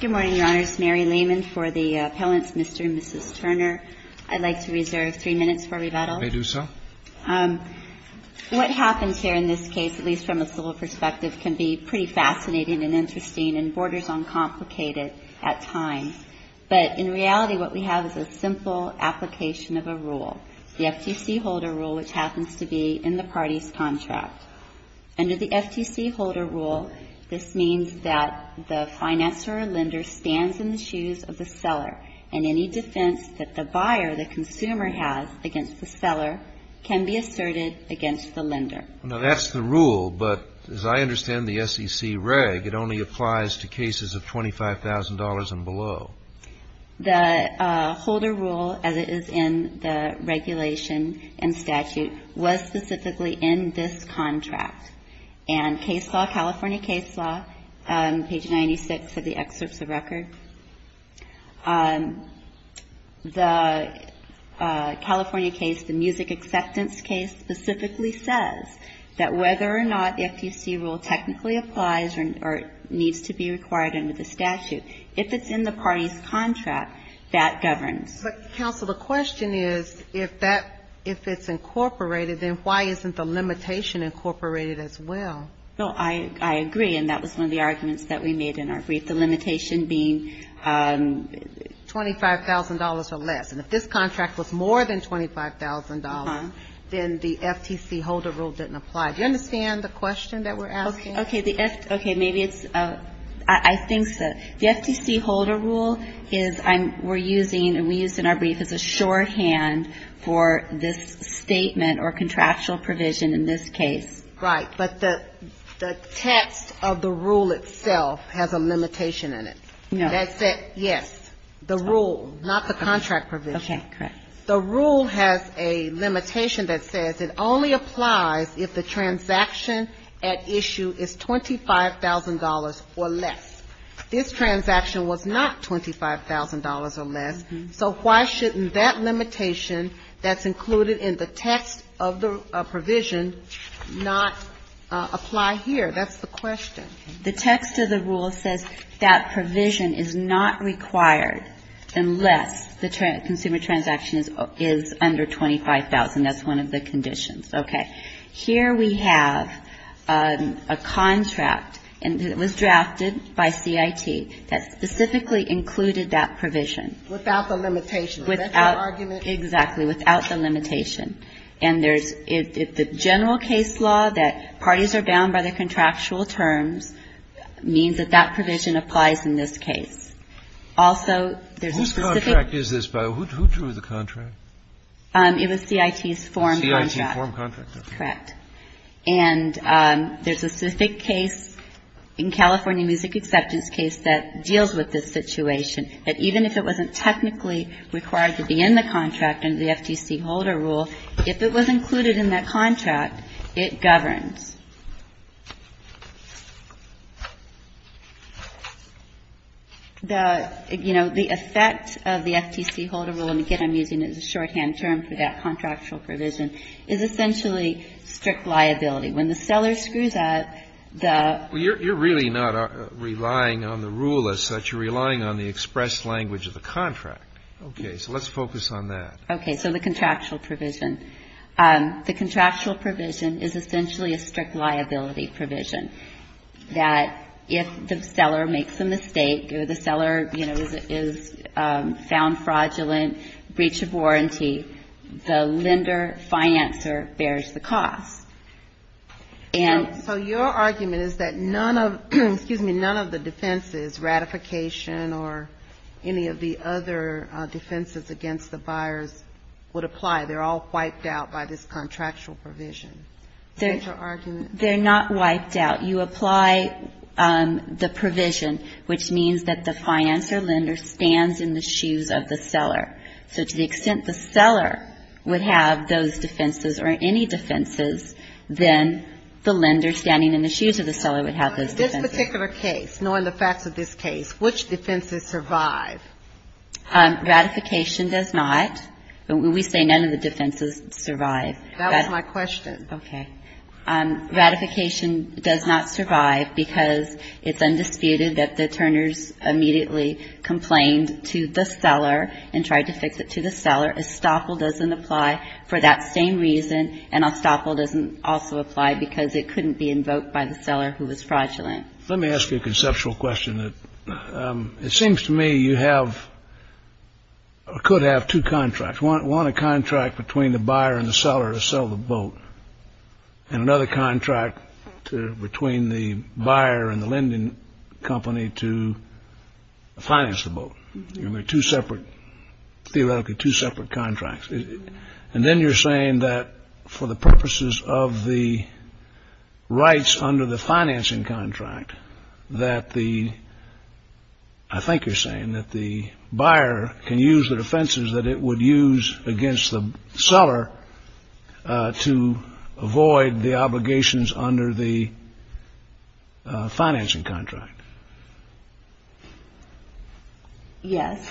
Good morning, Your Honors. Mary Lehman for the Appellant's Mystery. Mrs. Turner, I'd like to reserve three minutes for rebuttal. May I do so? What happens here in this case, at least from a civil perspective, can be pretty fascinating and interesting and borders on complicated at times. But in reality, what we have is a simple application of a rule, the FTC Holder Rule, which happens to be in the party's contract. Under the FTC Holder Rule, this means that the financer or lender stands in the shoes of the seller. And any defense that the buyer, the consumer, has against the seller can be asserted against the lender. Now, that's the rule, but as I understand the SEC reg, it only applies to cases of $25,000 and below. The Holder Rule, as it is in the regulation and statute, was specifically in this contract. And case law, California case law, page 96 of the excerpts of record, the California case, the music acceptance case, specifically says that whether or not the FTC rule technically applies or needs to be required under the statute, if it's in the party's contract, that governs. But, counsel, the question is, if that, if it's incorporated, then why isn't the limitation incorporated as well? No, I agree. And that was one of the arguments that we made in our brief, the limitation being $25,000 or less. And if this contract was more than $25,000, then the FTC Holder Rule didn't apply. Do you understand the question that we're asking? Okay. Okay. Maybe it's, I think the FTC Holder Rule is, we're using, and we used in our brief, as a shorthand for this statement or contractual provision in this case. Right. But the text of the rule itself has a limitation in it. No. Yes. The rule, not the contract provision. Okay. Correct. The rule has a limitation that says it only applies if the transaction at issue is $25,000 or less. This transaction was not $25,000 or less. So why shouldn't that limitation that's included in the text of the provision not apply here? That's the question. The text of the rule says that provision is not required unless the consumer transaction is under $25,000. That's one of the conditions. Okay. Here we have a contract, and it was drafted by CIT, that specifically included that provision. Without the limitation. Without the argument. Exactly. Without the limitation. And there's the general case law that parties are bound by their contractual terms means that that provision applies in this case. Also, there's a specific. Whose contract is this, by the way? Who drew the contract? It was CIT's form contract. CIT's form contract. Correct. And there's a specific case in California Music Acceptance case that deals with this situation, that even if it wasn't technically required to be in the contract under the FTC Holder Rule, if it was included in that contract, it governs. The, you know, the effect of the FTC Holder Rule, and again, I'm using it as a shorthand term for that contractual provision, is essentially strict liability. When the seller screws up, the ---- Well, you're really not relying on the rule as such. You're relying on the expressed language of the contract. Okay. So let's focus on that. Okay. So the contractual provision. The contractual provision is essentially a strict liability provision, that if the seller makes a mistake or the seller, you know, is found fraudulent, breach of warranty, the lender, financer bears the cost. And ---- So your argument is that none of, excuse me, none of the defenses, ratification or any of the other defenses against the buyers would apply. They're all wiped out by this contractual provision. Is that your argument? They're not wiped out. You apply the provision, which means that the financer lender stands in the shoes of the seller. So to the extent the seller would have those defenses or any defenses, then the lender standing in the shoes of the seller would have those defenses. In this particular case, knowing the facts of this case, which defenses survive? Ratification does not. We say none of the defenses survive. That was my question. Okay. Ratification does not survive because it's undisputed that the attorneys immediately complained to the seller and tried to fix it to the seller. Estoppel doesn't apply for that same reason, and Estoppel doesn't also apply because it couldn't be invoked by the seller who was fraudulent. Let me ask you a conceptual question. It seems to me you have or could have two contracts. One, a contract between the buyer and the seller to sell the boat, and another contract between the buyer and the lending company to finance the boat. You have two separate, theoretically two separate contracts. And then you're saying that for the purposes of the rights under the financing contract, that the, I think you're saying that the buyer can use the defenses that it would use against the seller to avoid the obligations under the financing contract. Yes.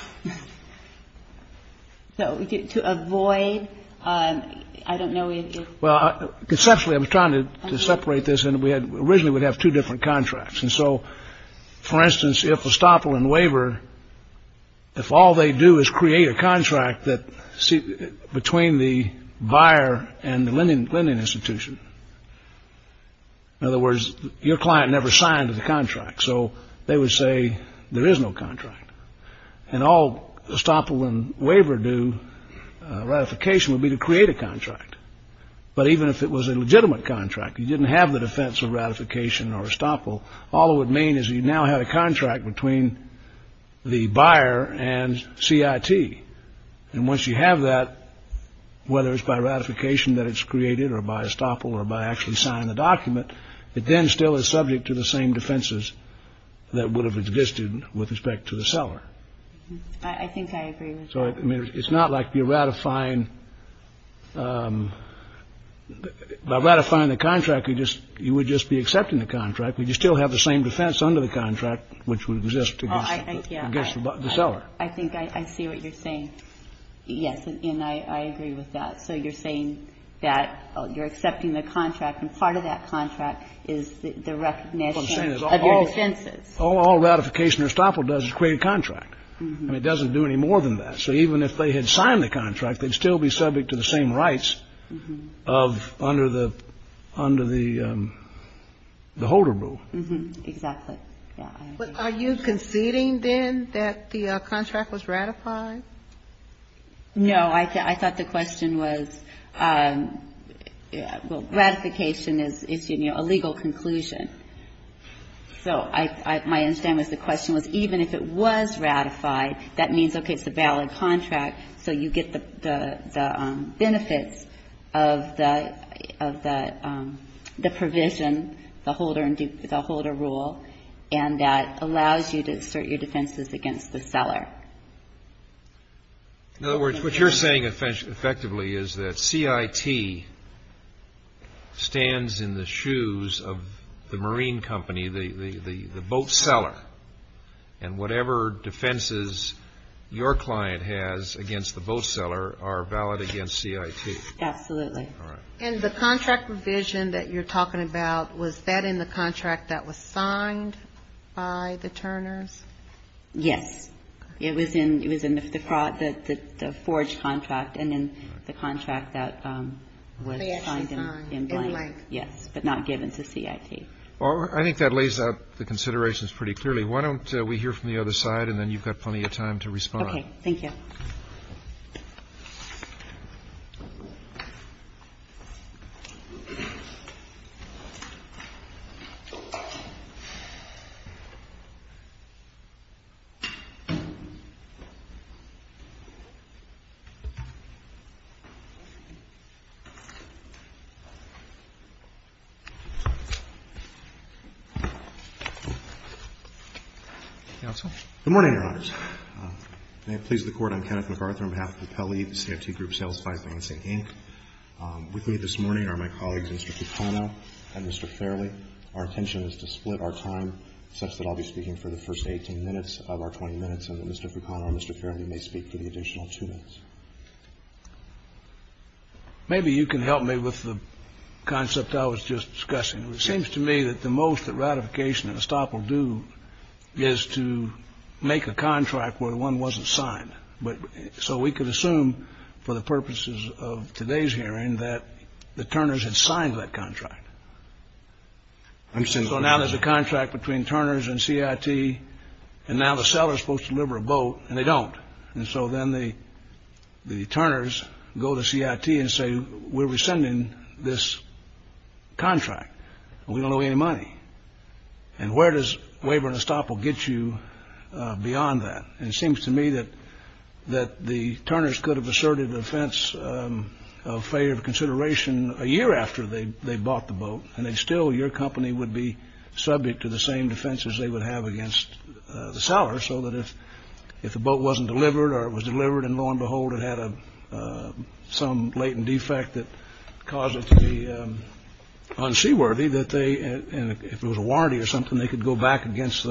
So to avoid, I don't know if. Well, conceptually I'm trying to separate this. And we had originally would have two different contracts. And so, for instance, if Estoppel and Waiver, if all they do is create a contract that between the buyer and the lending institution. In other words, your client never signed the contract. So they would say there is no contract. And all Estoppel and Waiver do, ratification would be to create a contract. But even if it was a legitimate contract, you didn't have the defense of ratification or Estoppel, all it would mean is you now had a contract between the buyer and CIT. And once you have that, whether it's by ratification that it's created or by Estoppel or by actually signing the document, it then still is subject to the same defenses that would have existed with respect to the seller. I think I agree. So it's not like you're ratifying. By ratifying the contract, you just you would just be accepting the contract. Would you still have the same defense under the contract which would exist against the seller? I think I see what you're saying. Yes. And I agree with that. So you're saying that you're accepting the contract. And part of that contract is the recognition of your defenses. All ratification or Estoppel does is create a contract. And it doesn't do any more than that. So even if they had signed the contract, they'd still be subject to the same rights of under the holder rule. Exactly. Are you conceding then that the contract was ratified? No. I thought the question was, well, ratification is, you know, a legal conclusion. So my understanding was the question was even if it was ratified, that means, okay, it's a valid contract, so you get the benefits of the provision, the holder rule, and that allows you to assert your defenses against the seller. In other words, what you're saying effectively is that CIT stands in the shoes of the marine company, the boat seller, and whatever defenses your client has against the boat seller are valid against CIT. Absolutely. All right. And the contract provision that you're talking about, was that in the contract that was signed by the Turners? Yes. It was in the forged contract and in the contract that was signed in blank. Yes, but not given to CIT. Well, I think that lays out the considerations pretty clearly. Why don't we hear from the other side, and then you've got plenty of time to respond. Okay. Thank you. Counsel? Good morning, Your Honors. May it please the Court, I'm Kenneth McArthur on behalf of the Pelley CIT Group Sales Finance, Inc. With me this morning are my colleagues, Mr. Fucano and Mr. Farrelly. Our intention is to split our time such that I'll be speaking for the first 18 minutes of our 20 minutes and that Mr. Fucano and Mr. Farrelly may speak for the additional two minutes. Maybe you can help me with the concept I was just discussing. It seems to me that the most that ratification and estoppel do is to make a contract where one wasn't signed. So we could assume for the purposes of today's hearing that the Turners had signed that contract. So now there's a contract between Turners and CIT, and now the seller is supposed to deliver a boat, and they don't. And so then the Turners go to CIT and say, we're rescinding this contract. We don't owe any money. And where does waiver and estoppel get you beyond that? It seems to me that the Turners could have asserted an offense of failure of consideration a year after they bought the boat, and that still your company would be subject to the same defenses they would have against the seller, so that if the boat wasn't delivered or it was delivered and, lo and behold, it had some latent defect that caused it to be unseaworthy, that they, if it was a warranty or something, they could go back against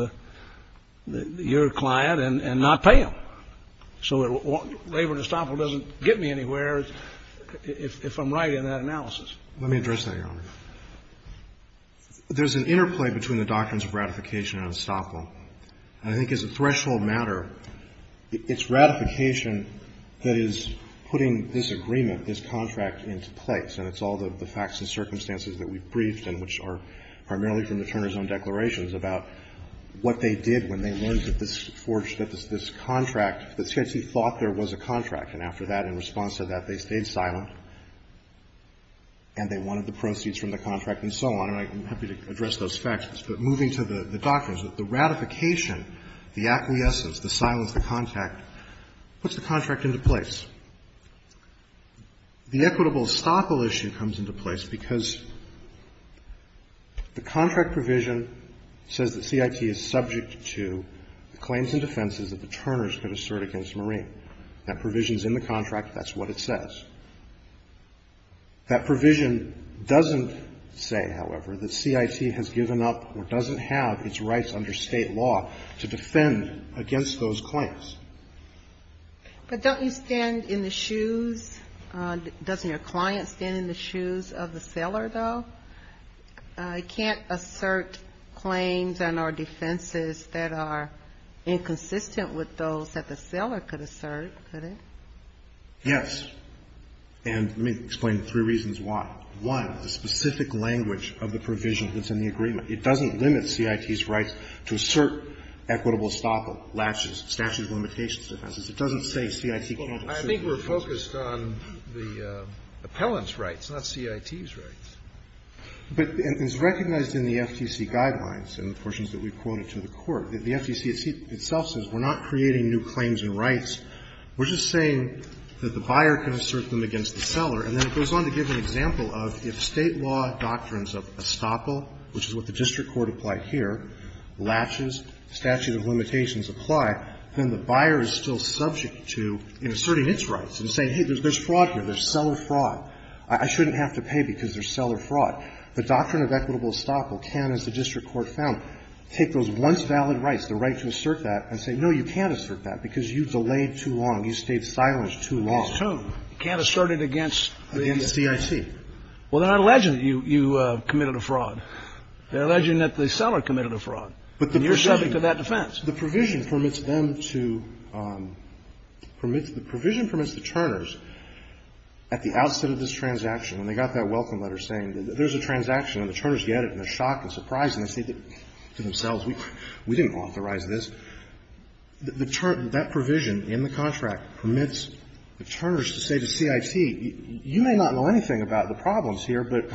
your client and not pay them. So waiver and estoppel doesn't get me anywhere, if I'm right in that analysis. Let me address that, Your Honor. There's an interplay between the doctrines of ratification and estoppel. I think as a threshold matter, it's ratification that is putting this agreement, this contract, into place. And it's all the facts and circumstances that we've briefed and which are primarily from the Turners' own declarations about what they did when they learned that this contract, that CIT thought there was a contract. And after that, in response to that, they stayed silent and they wanted the proceeds from the contract and so on. And I'm happy to address those facts. But moving to the doctrines, the ratification, the acquiescence, the silence, the contact puts the contract into place. The equitable estoppel issue comes into place because the contract provision says that CIT is subject to the claims and defenses that the Turners could assert against Marine. That provision is in the contract. That's what it says. That provision doesn't say, however, that CIT has given up or doesn't have its rights under State law to defend against those claims. But don't you stand in the shoes, doesn't your client stand in the shoes of the seller, though? He can't assert claims and or defenses that are inconsistent with those that the seller could assert, could he? Yes. And let me explain three reasons why. One, the specific language of the provision that's in the agreement. It doesn't limit CIT's rights to assert equitable estoppel, lapses, statute of limitations defenses. It doesn't say CIT can't assert those rights. I think we're focused on the appellant's rights, not CIT's rights. But it's recognized in the FTC guidelines and the portions that we've quoted to the Court that the FTC itself says we're not creating new claims and rights. We're just saying that the buyer can assert them against the seller. And then it goes on to give an example of if State law doctrines of estoppel, which is what the district court applied here, latches, statute of limitations apply, then the buyer is still subject to asserting its rights and saying, hey, there's fraud here, there's seller fraud. I shouldn't have to pay because there's seller fraud. The doctrine of equitable estoppel can, as the district court found, take those once valid rights, the right to assert that, and say, no, you can't assert that because you delayed too long. You stayed silenced too long. You can't assert it against the CIT. Well, they're not alleging that you committed a fraud. They're alleging that the seller committed a fraud. But the provision. And you're subject to that defense. The provision permits them to permit, the provision permits the Turners at the outset of this transaction, when they got that welcome letter saying that there's a transaction and the Turners get it and they're shocked and surprised and they say to themselves, we didn't authorize this, that provision in the contract permits the Turners to say to CIT, you may not know anything about the problems here, but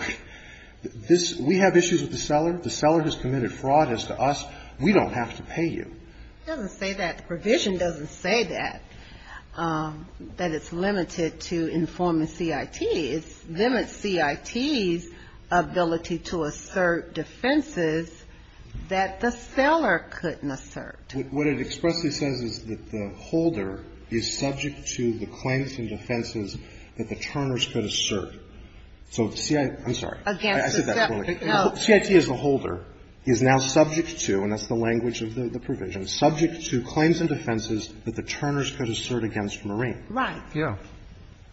this, we have issues with the seller. The seller has committed fraud as to us. We don't have to pay you. It doesn't say that. The provision doesn't say that, that it's limited to informing CIT. It limits CIT's ability to assert defenses that the seller couldn't assert. What it expressly says is that the holder is subject to the claims and defenses that the Turners could assert. So the CIT, I'm sorry. Against the seller. I said that earlier. Well, CIT as a holder is now subject to, and that's the language of the provision, subject to claims and defenses that the Turners could assert against Marine. Right. Yeah.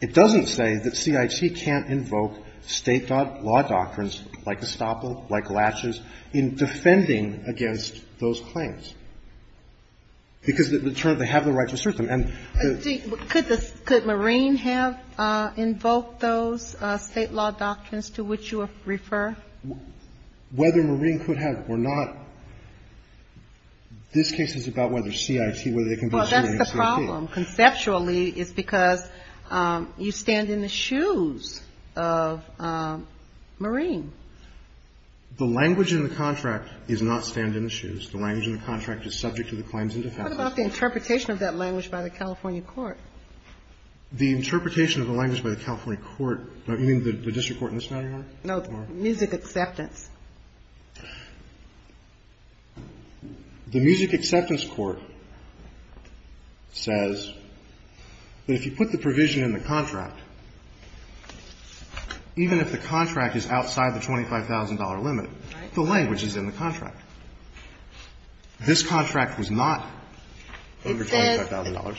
It doesn't say that CIT can't invoke State law doctrines like Estoppel, like Latches, in defending against those claims, because the Turners, they have the right to assert them, and the. Could Marine have invoked those State law doctrines to which you refer? Whether Marine could have or not, this case is about whether CIT, whether they can be. Well, that's the problem. Conceptually, it's because you stand in the shoes of Marine. The language in the contract is not stand in the shoes. The language in the contract is subject to the claims and defenses. What about the interpretation of that language by the California court? The interpretation of the language by the California court, you mean the district court in this matter, Your Honor? No, the music acceptance. The music acceptance court says that if you put the provision in the contract, even if the contract is outside the $25,000 limit, the language is in the contract. This contract was not over $25,000. It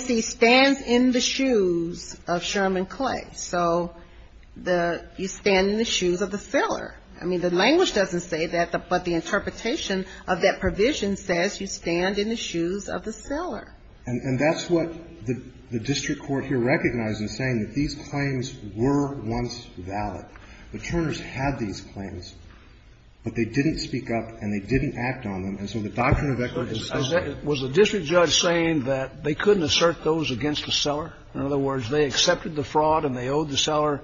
says MAC stands in the shoes of Sherman Clay. So the you stand in the shoes of the seller. I mean, the language doesn't say that, but the interpretation of that provision says you stand in the shoes of the seller. And that's what the district court here recognized in saying that these claims were once valid. The Turners had these claims, but they didn't speak up and they didn't act on them. And so the doctrine of equity is still there. Was the district judge saying that they couldn't assert those against the seller? In other words, they accepted the fraud and they owed the seller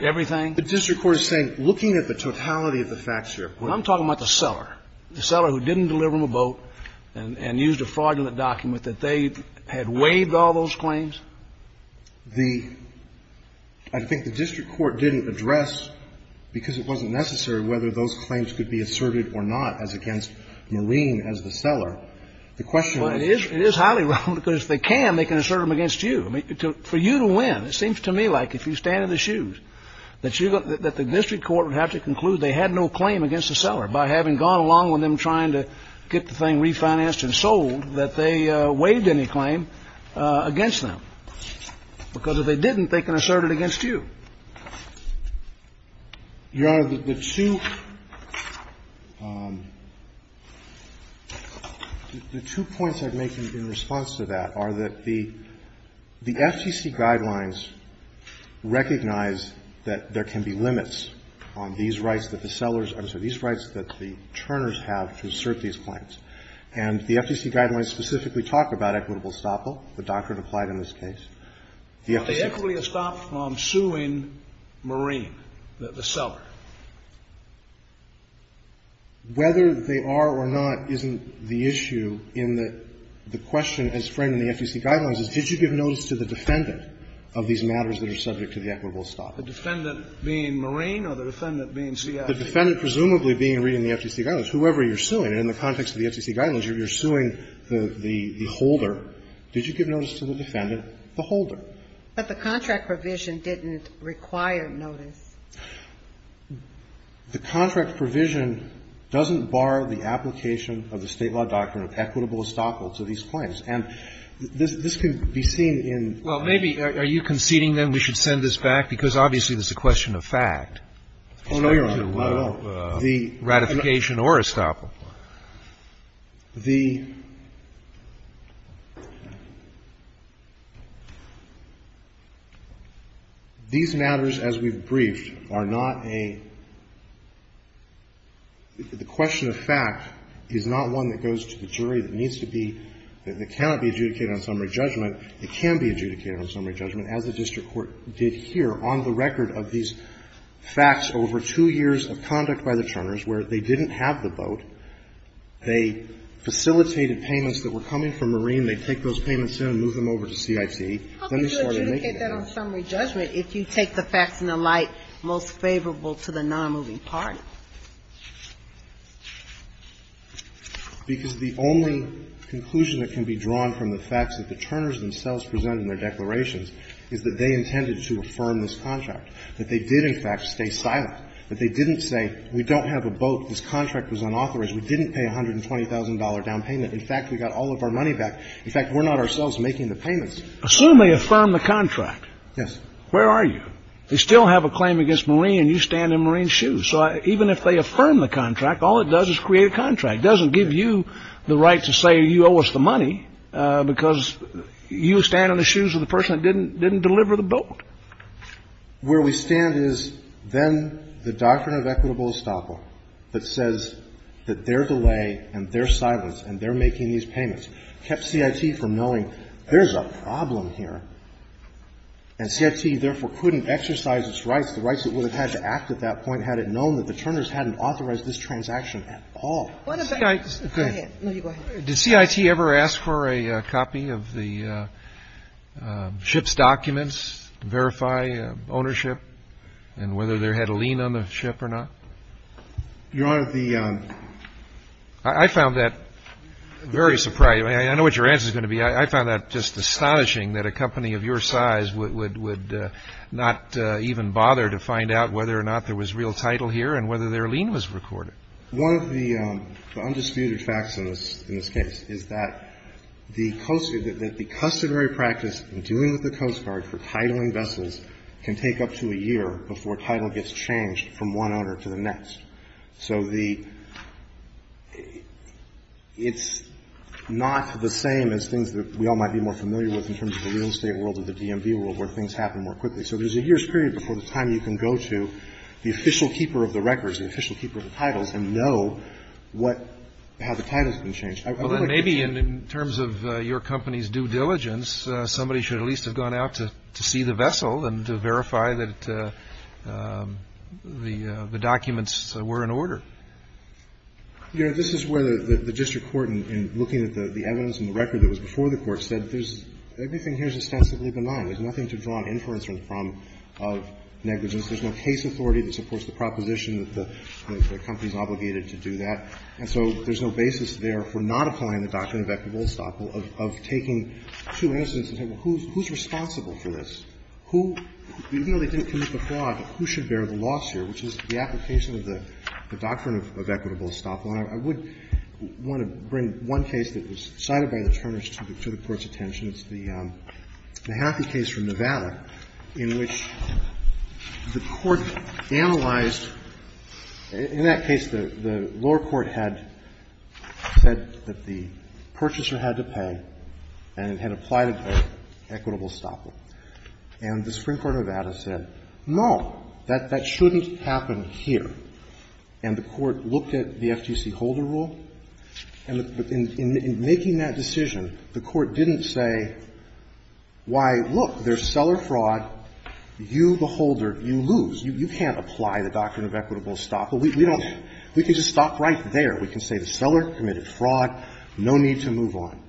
everything? The district court is saying, looking at the totality of the facts here. I'm talking about the seller. The seller who didn't deliver him a boat and used a fraudulent document, that they had waived all those claims? The — I think the district court didn't address, because it wasn't necessary, whether those claims could be asserted or not as against Marine as the seller. The question was — It is highly wrong, because if they can, they can assert them against you. I mean, for you to win, it seems to me like if you stand in the shoes, that you're going — that the district court would have to conclude they had no claim against the seller by having gone along with them trying to get the thing refinanced and sold, that they waived any claim against them. Because if they didn't, they can assert it against you. Your Honor, the two — the two points I'd make in response to that are that the FCC guidelines recognize that there can be limits on these rights that the sellers — I'm sorry, these rights that the churners have to assert these claims. And the FCC guidelines specifically talk about equitable estoppel, the doctrine applied in this case. But the equitable estoppel from suing Marine, the seller. Whether they are or not isn't the issue in the question as framed in the FCC guidelines is, did you give notice to the defendant of these matters that are subject to the equitable estoppel? The defendant being Marine or the defendant being CIA? The defendant presumably being reading the FCC guidelines. Whoever you're suing, in the context of the FCC guidelines, you're suing the holder. Did you give notice to the defendant? The holder. But the contract provision didn't require notice. The contract provision doesn't bar the application of the State law doctrine of equitable estoppel to these claims. And this can be seen in the statute. Well, maybe. Are you conceding, then, we should send this back? Because obviously this is a question of fact. Oh, no, Your Honor. No, no. The ratification or estoppel. These matters, as we've briefed, are not a the question of fact is not one that goes to the jury that needs to be, that cannot be adjudicated on summary judgment. It can be adjudicated on summary judgment, as the district court did here, on the record of these facts over two years of conduct by the Churners where they didn't have the boat. They facilitated payments that were coming from Marine. They take those payments in and move them over to CIT. How can you adjudicate that on summary judgment if you take the facts in the light most favorable to the nonmoving party? Because the only conclusion that can be drawn from the facts that the Churners themselves present in their declarations is that they intended to affirm this contract, that they did, in fact, stay silent, that they didn't say we don't have a boat, this contract was unauthorized, we didn't pay $120,000 down payment. In fact, we got all of our money back. In fact, we're not ourselves making the payments. Assume they affirm the contract. Yes. Where are you? They still have a claim against Marine and you stand in Marine's shoes. So even if they affirm the contract, all it does is create a contract. It doesn't give you the right to say you owe us the money because you stand in the shoes of the person that didn't deliver the boat. So where we stand is then the doctrine of equitable estoppel that says that their delay and their silence and their making these payments kept CIT from knowing there's a problem here. And CIT therefore couldn't exercise its rights, the rights it would have had to act at that point had it known that the Churners hadn't authorized this transaction at all. Go ahead. Did CIT ever ask for a copy of the ship's documents to verify ownership and whether there had a lien on the ship or not? Your Honor, the... I found that very surprising. I know what your answer is going to be. I found that just astonishing that a company of your size would not even bother to find out whether or not there was real title here and whether their lien was recorded. One of the undisputed facts in this case is that the Coast Guard, that the customary practice in dealing with the Coast Guard for titling vessels can take up to a year before title gets changed from one owner to the next. So the, it's not the same as things that we all might be more familiar with in terms of the real estate world or the DMV world where things happen more quickly. So there's a year's period before the time you can go to the official keeper of the records, the official keeper of the titles and know what, how the titles have been changed. Well, then maybe in terms of your company's due diligence, somebody should at least have gone out to see the vessel and to verify that the documents were in order. Your Honor, this is where the district court, in looking at the evidence and the record that was before the court, said there's, everything here is ostensibly benign. There's nothing to draw an inference from of negligence. There's no case authority that supports the proposition that the company's obligated to do that. And so there's no basis there for not applying the doctrine of equitable estoppel of taking two incidents and saying, well, who's responsible for this? Who, even though they didn't commit the fraud, who should bear the loss here, which is the application of the doctrine of equitable estoppel. And I would want to bring one case that was cited by the Turners to the Court's attention. It's the Haffey case from Nevada in which the Court analyzed, in that case, the lower court had said that the purchaser had to pay and had applied an equitable estoppel. And the Supreme Court of Nevada said, no, that shouldn't happen here. And the Court looked at the FTC Holder Rule, and in making that decision, the Court didn't say, why, look, there's seller fraud, you, the holder, you lose. You can't apply the doctrine of equitable estoppel. We don't. We can just stop right there. We can say the seller committed fraud, no need to move on.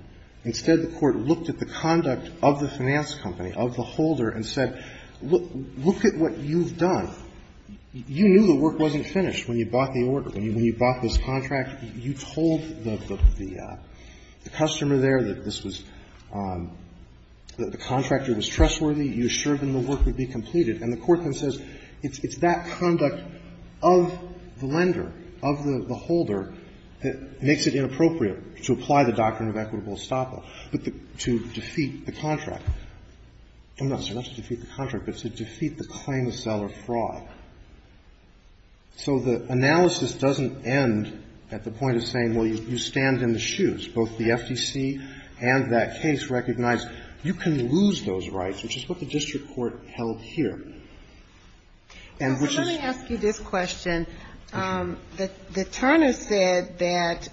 Instead, the Court looked at the conduct of the finance company, of the holder, and said, look, look at what you've done. You knew the work wasn't finished when you bought the order, when you bought this The contractor was trustworthy. You assured them the work would be completed. And the Court then says, it's that conduct of the lender, of the holder, that makes it inappropriate to apply the doctrine of equitable estoppel, but to defeat the contract. I'm not saying not to defeat the contract, but to defeat the claim of seller fraud. So the analysis doesn't end at the point of saying, well, you stand in the shoes, both the FTC and that case recognize you can lose those rights, which is what the district court held here. And which is Let me ask you this question. The Turner said that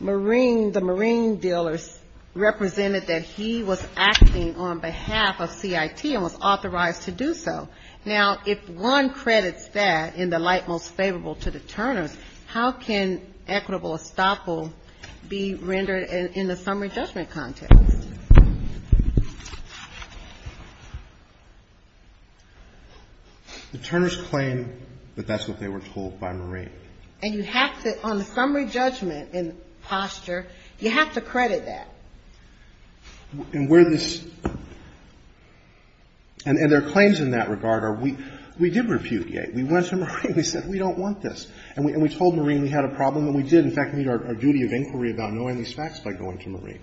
Marine, the Marine dealers represented that he was acting on behalf of CIT and was authorized to do so. Now, if one credits that in the light most favorable to the Turners, how can equitable estoppel be rendered in the summary judgment context? The Turners claim that that's what they were told by Marine. And you have to, on the summary judgment in posture, you have to credit that. And where this — and their claims in that regard are, we did repudiate. We went to Marine. We said, we don't want this. And we told Marine we had a problem, and we did, in fact, meet our duty of inquiry about knowing these facts by going to Marine.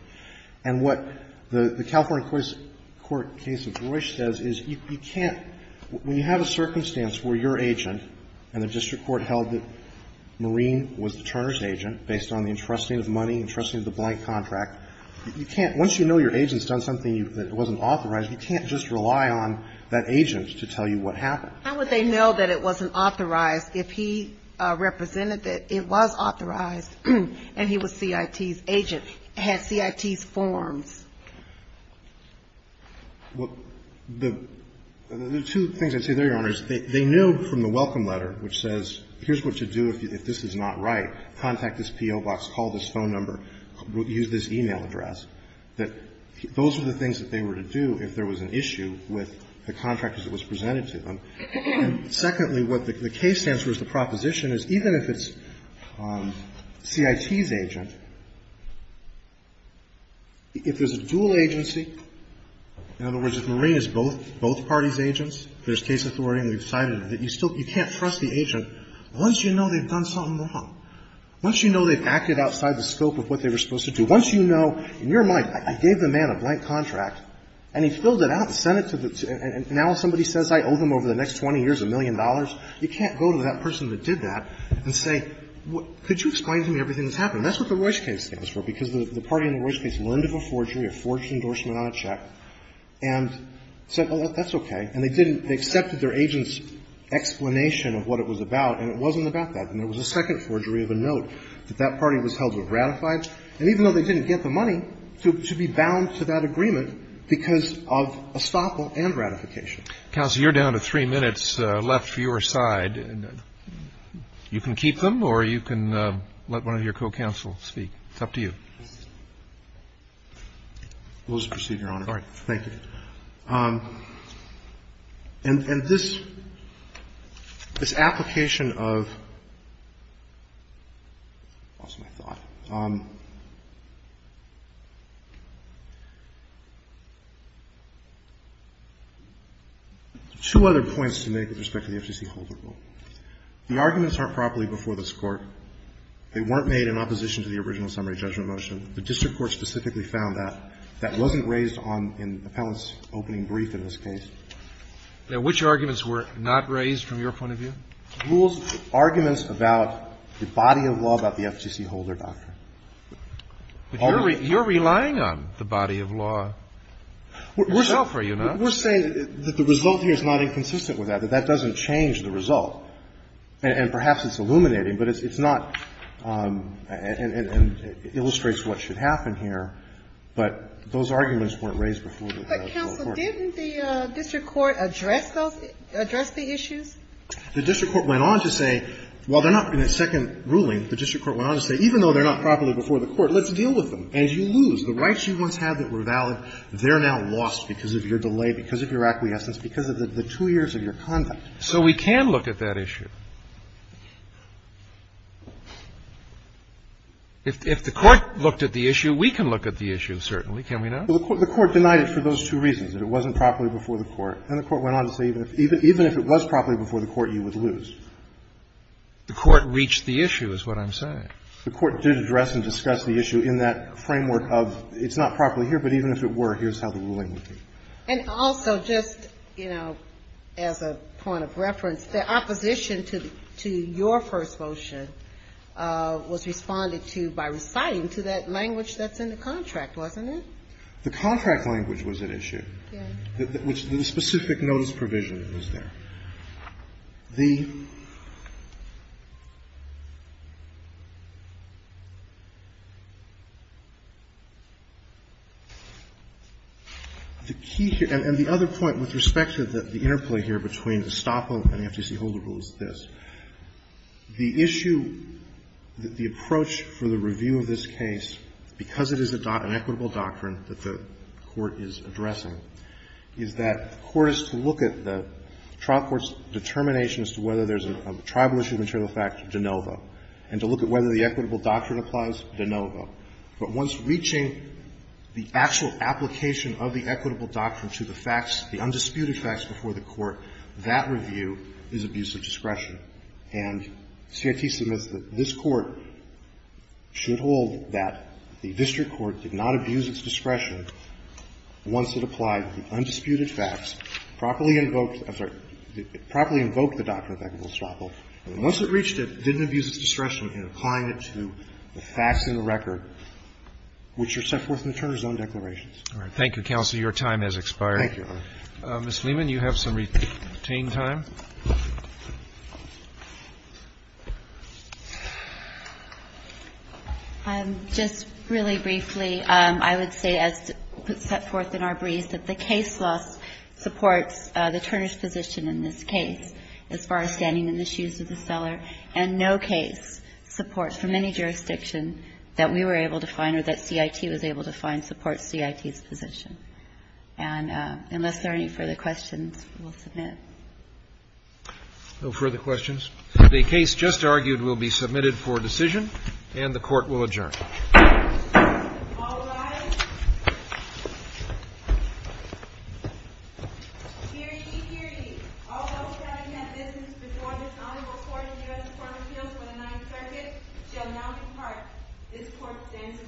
And what the California Court's case of Royce says is you can't — when you have a circumstance where your agent and the district court held that Marine was the Turner's agent, based on the entrusting of money, entrusting of the blank contract, you can't — once you know your agent's done something that wasn't authorized, you can't just rely on that agent to tell you what happened. How would they know that it wasn't authorized if he represented that it was authorized and he was CIT's agent, had CIT's forms? Well, the two things I'd say there, Your Honor, is they know from the welcome letter, which says, here's what to do if this is not right. Contact this P.O. box. Call this phone number. Use this e-mail address. That those were the things that they were to do if there was an issue with the contractors it was presented to them. And secondly, what the case stands for as the proposition is, even if it's CIT's agent, if there's a dual agency, in other words, if Marine is both parties' agents, there's case authority, you can't trust the agent once you know they've done something wrong. Once you know they've acted outside the scope of what they were supposed to do, once you know, in your mind, I gave the man a blank contract and he filled it out and sent it to the — and now somebody says I owe them over the next 20 years a million dollars, you can't go to that person that did that and say, could you explain to me everything that's happened? That's what the Royce case stands for, because the party in the Royce case learned of a forgery, a forged endorsement on a check, and said, oh, that's okay. And they didn't — they accepted their agent's explanation of what it was about, and it wasn't about that. And there was a second forgery of a note that that party was held with ratified, and even though they didn't get the money, to be bound to that agreement because of estoppel and ratification. Counsel, you're down to three minutes left for your side. You can keep them or you can let one of your co-counsel speak. It's up to you. Rules of procedure, Your Honor. All right. Thank you. And this application of — lost my thought. Two other points to make with respect to the FCC holder rule. The arguments aren't properly before this Court. They weren't made in opposition to the original summary judgment motion. The district court specifically found that. That wasn't raised on — in the panelist's opening brief in this case. Now, which arguments were not raised from your point of view? Rules, arguments about the body of law about the FCC holder doctrine. You're relying on the body of law itself, are you not? We're saying that the result here is not inconsistent with that, that that doesn't change the result. And perhaps it's illuminating, but it's not — and illustrates what should happen here. But those arguments weren't raised before the court. But, Counsel, didn't the district court address those — address the issues? The district court went on to say, while they're not in a second ruling, the district court went on to say, even though they're not properly before the court, let's deal with them. As you lose, the rights you once had that were valid, they're now lost because of your delay, because of your acquiescence, because of the two years of your conduct. So we can look at that issue. If the court looked at the issue, we can look at the issue, certainly. Can we not? Well, the court denied it for those two reasons, that it wasn't properly before the court. And the court went on to say, even if it was properly before the court, you would lose. The court reached the issue is what I'm saying. The court did address and discuss the issue in that framework of it's not properly here, but even if it were, here's how the ruling would be. And also, just, you know, as a point of reference, the opposition to your first motion was responded to by reciting to that language that's in the contract, wasn't it? The contract language was at issue. The specific notice provision was there. The key here, and the other point with respect to the interplay here between Gestapo and the FTC Holder Rule is this. The issue, the approach for the review of this case, because it is an equitable doctrine that the court is addressing, is that the court is to look at the trial court's determination as to whether there's a tribal issue of material facts de novo, and to look at whether the equitable doctrine applies de novo. But once reaching the actual application of the equitable doctrine to the facts, the undisputed facts before the court, that review is abuse of discretion. And CIT submits that this Court should hold that the district court did not abuse its discretion once it applied the undisputed facts, properly invoked, I'm sorry, properly invoked the doctrine of equitable estoppel. And once it reached it, didn't abuse its discretion in applying it to the facts in the record, which are set forth in the Turner's own declarations. Roberts. All right. Thank you, counsel. Your time has expired. Thank you, Your Honor. Ms. Fleeman, you have some retained time. Just really briefly, I would say, as set forth in our brief, that the case loss supports the Turner's position in this case as far as standing in the shoes of the seller and no case support from any jurisdiction that we were able to find or that CIT was able to find supports CIT's position. And unless there are any further questions, we'll submit. No further questions. The case just argued will be submitted for decision, and the Court will adjourn. All rise. Hear ye, hear ye. All those having had business before this Honorable Court in the U.S. Court of Appeals for the Ninth Circuit shall now depart. This Court stands adjourned.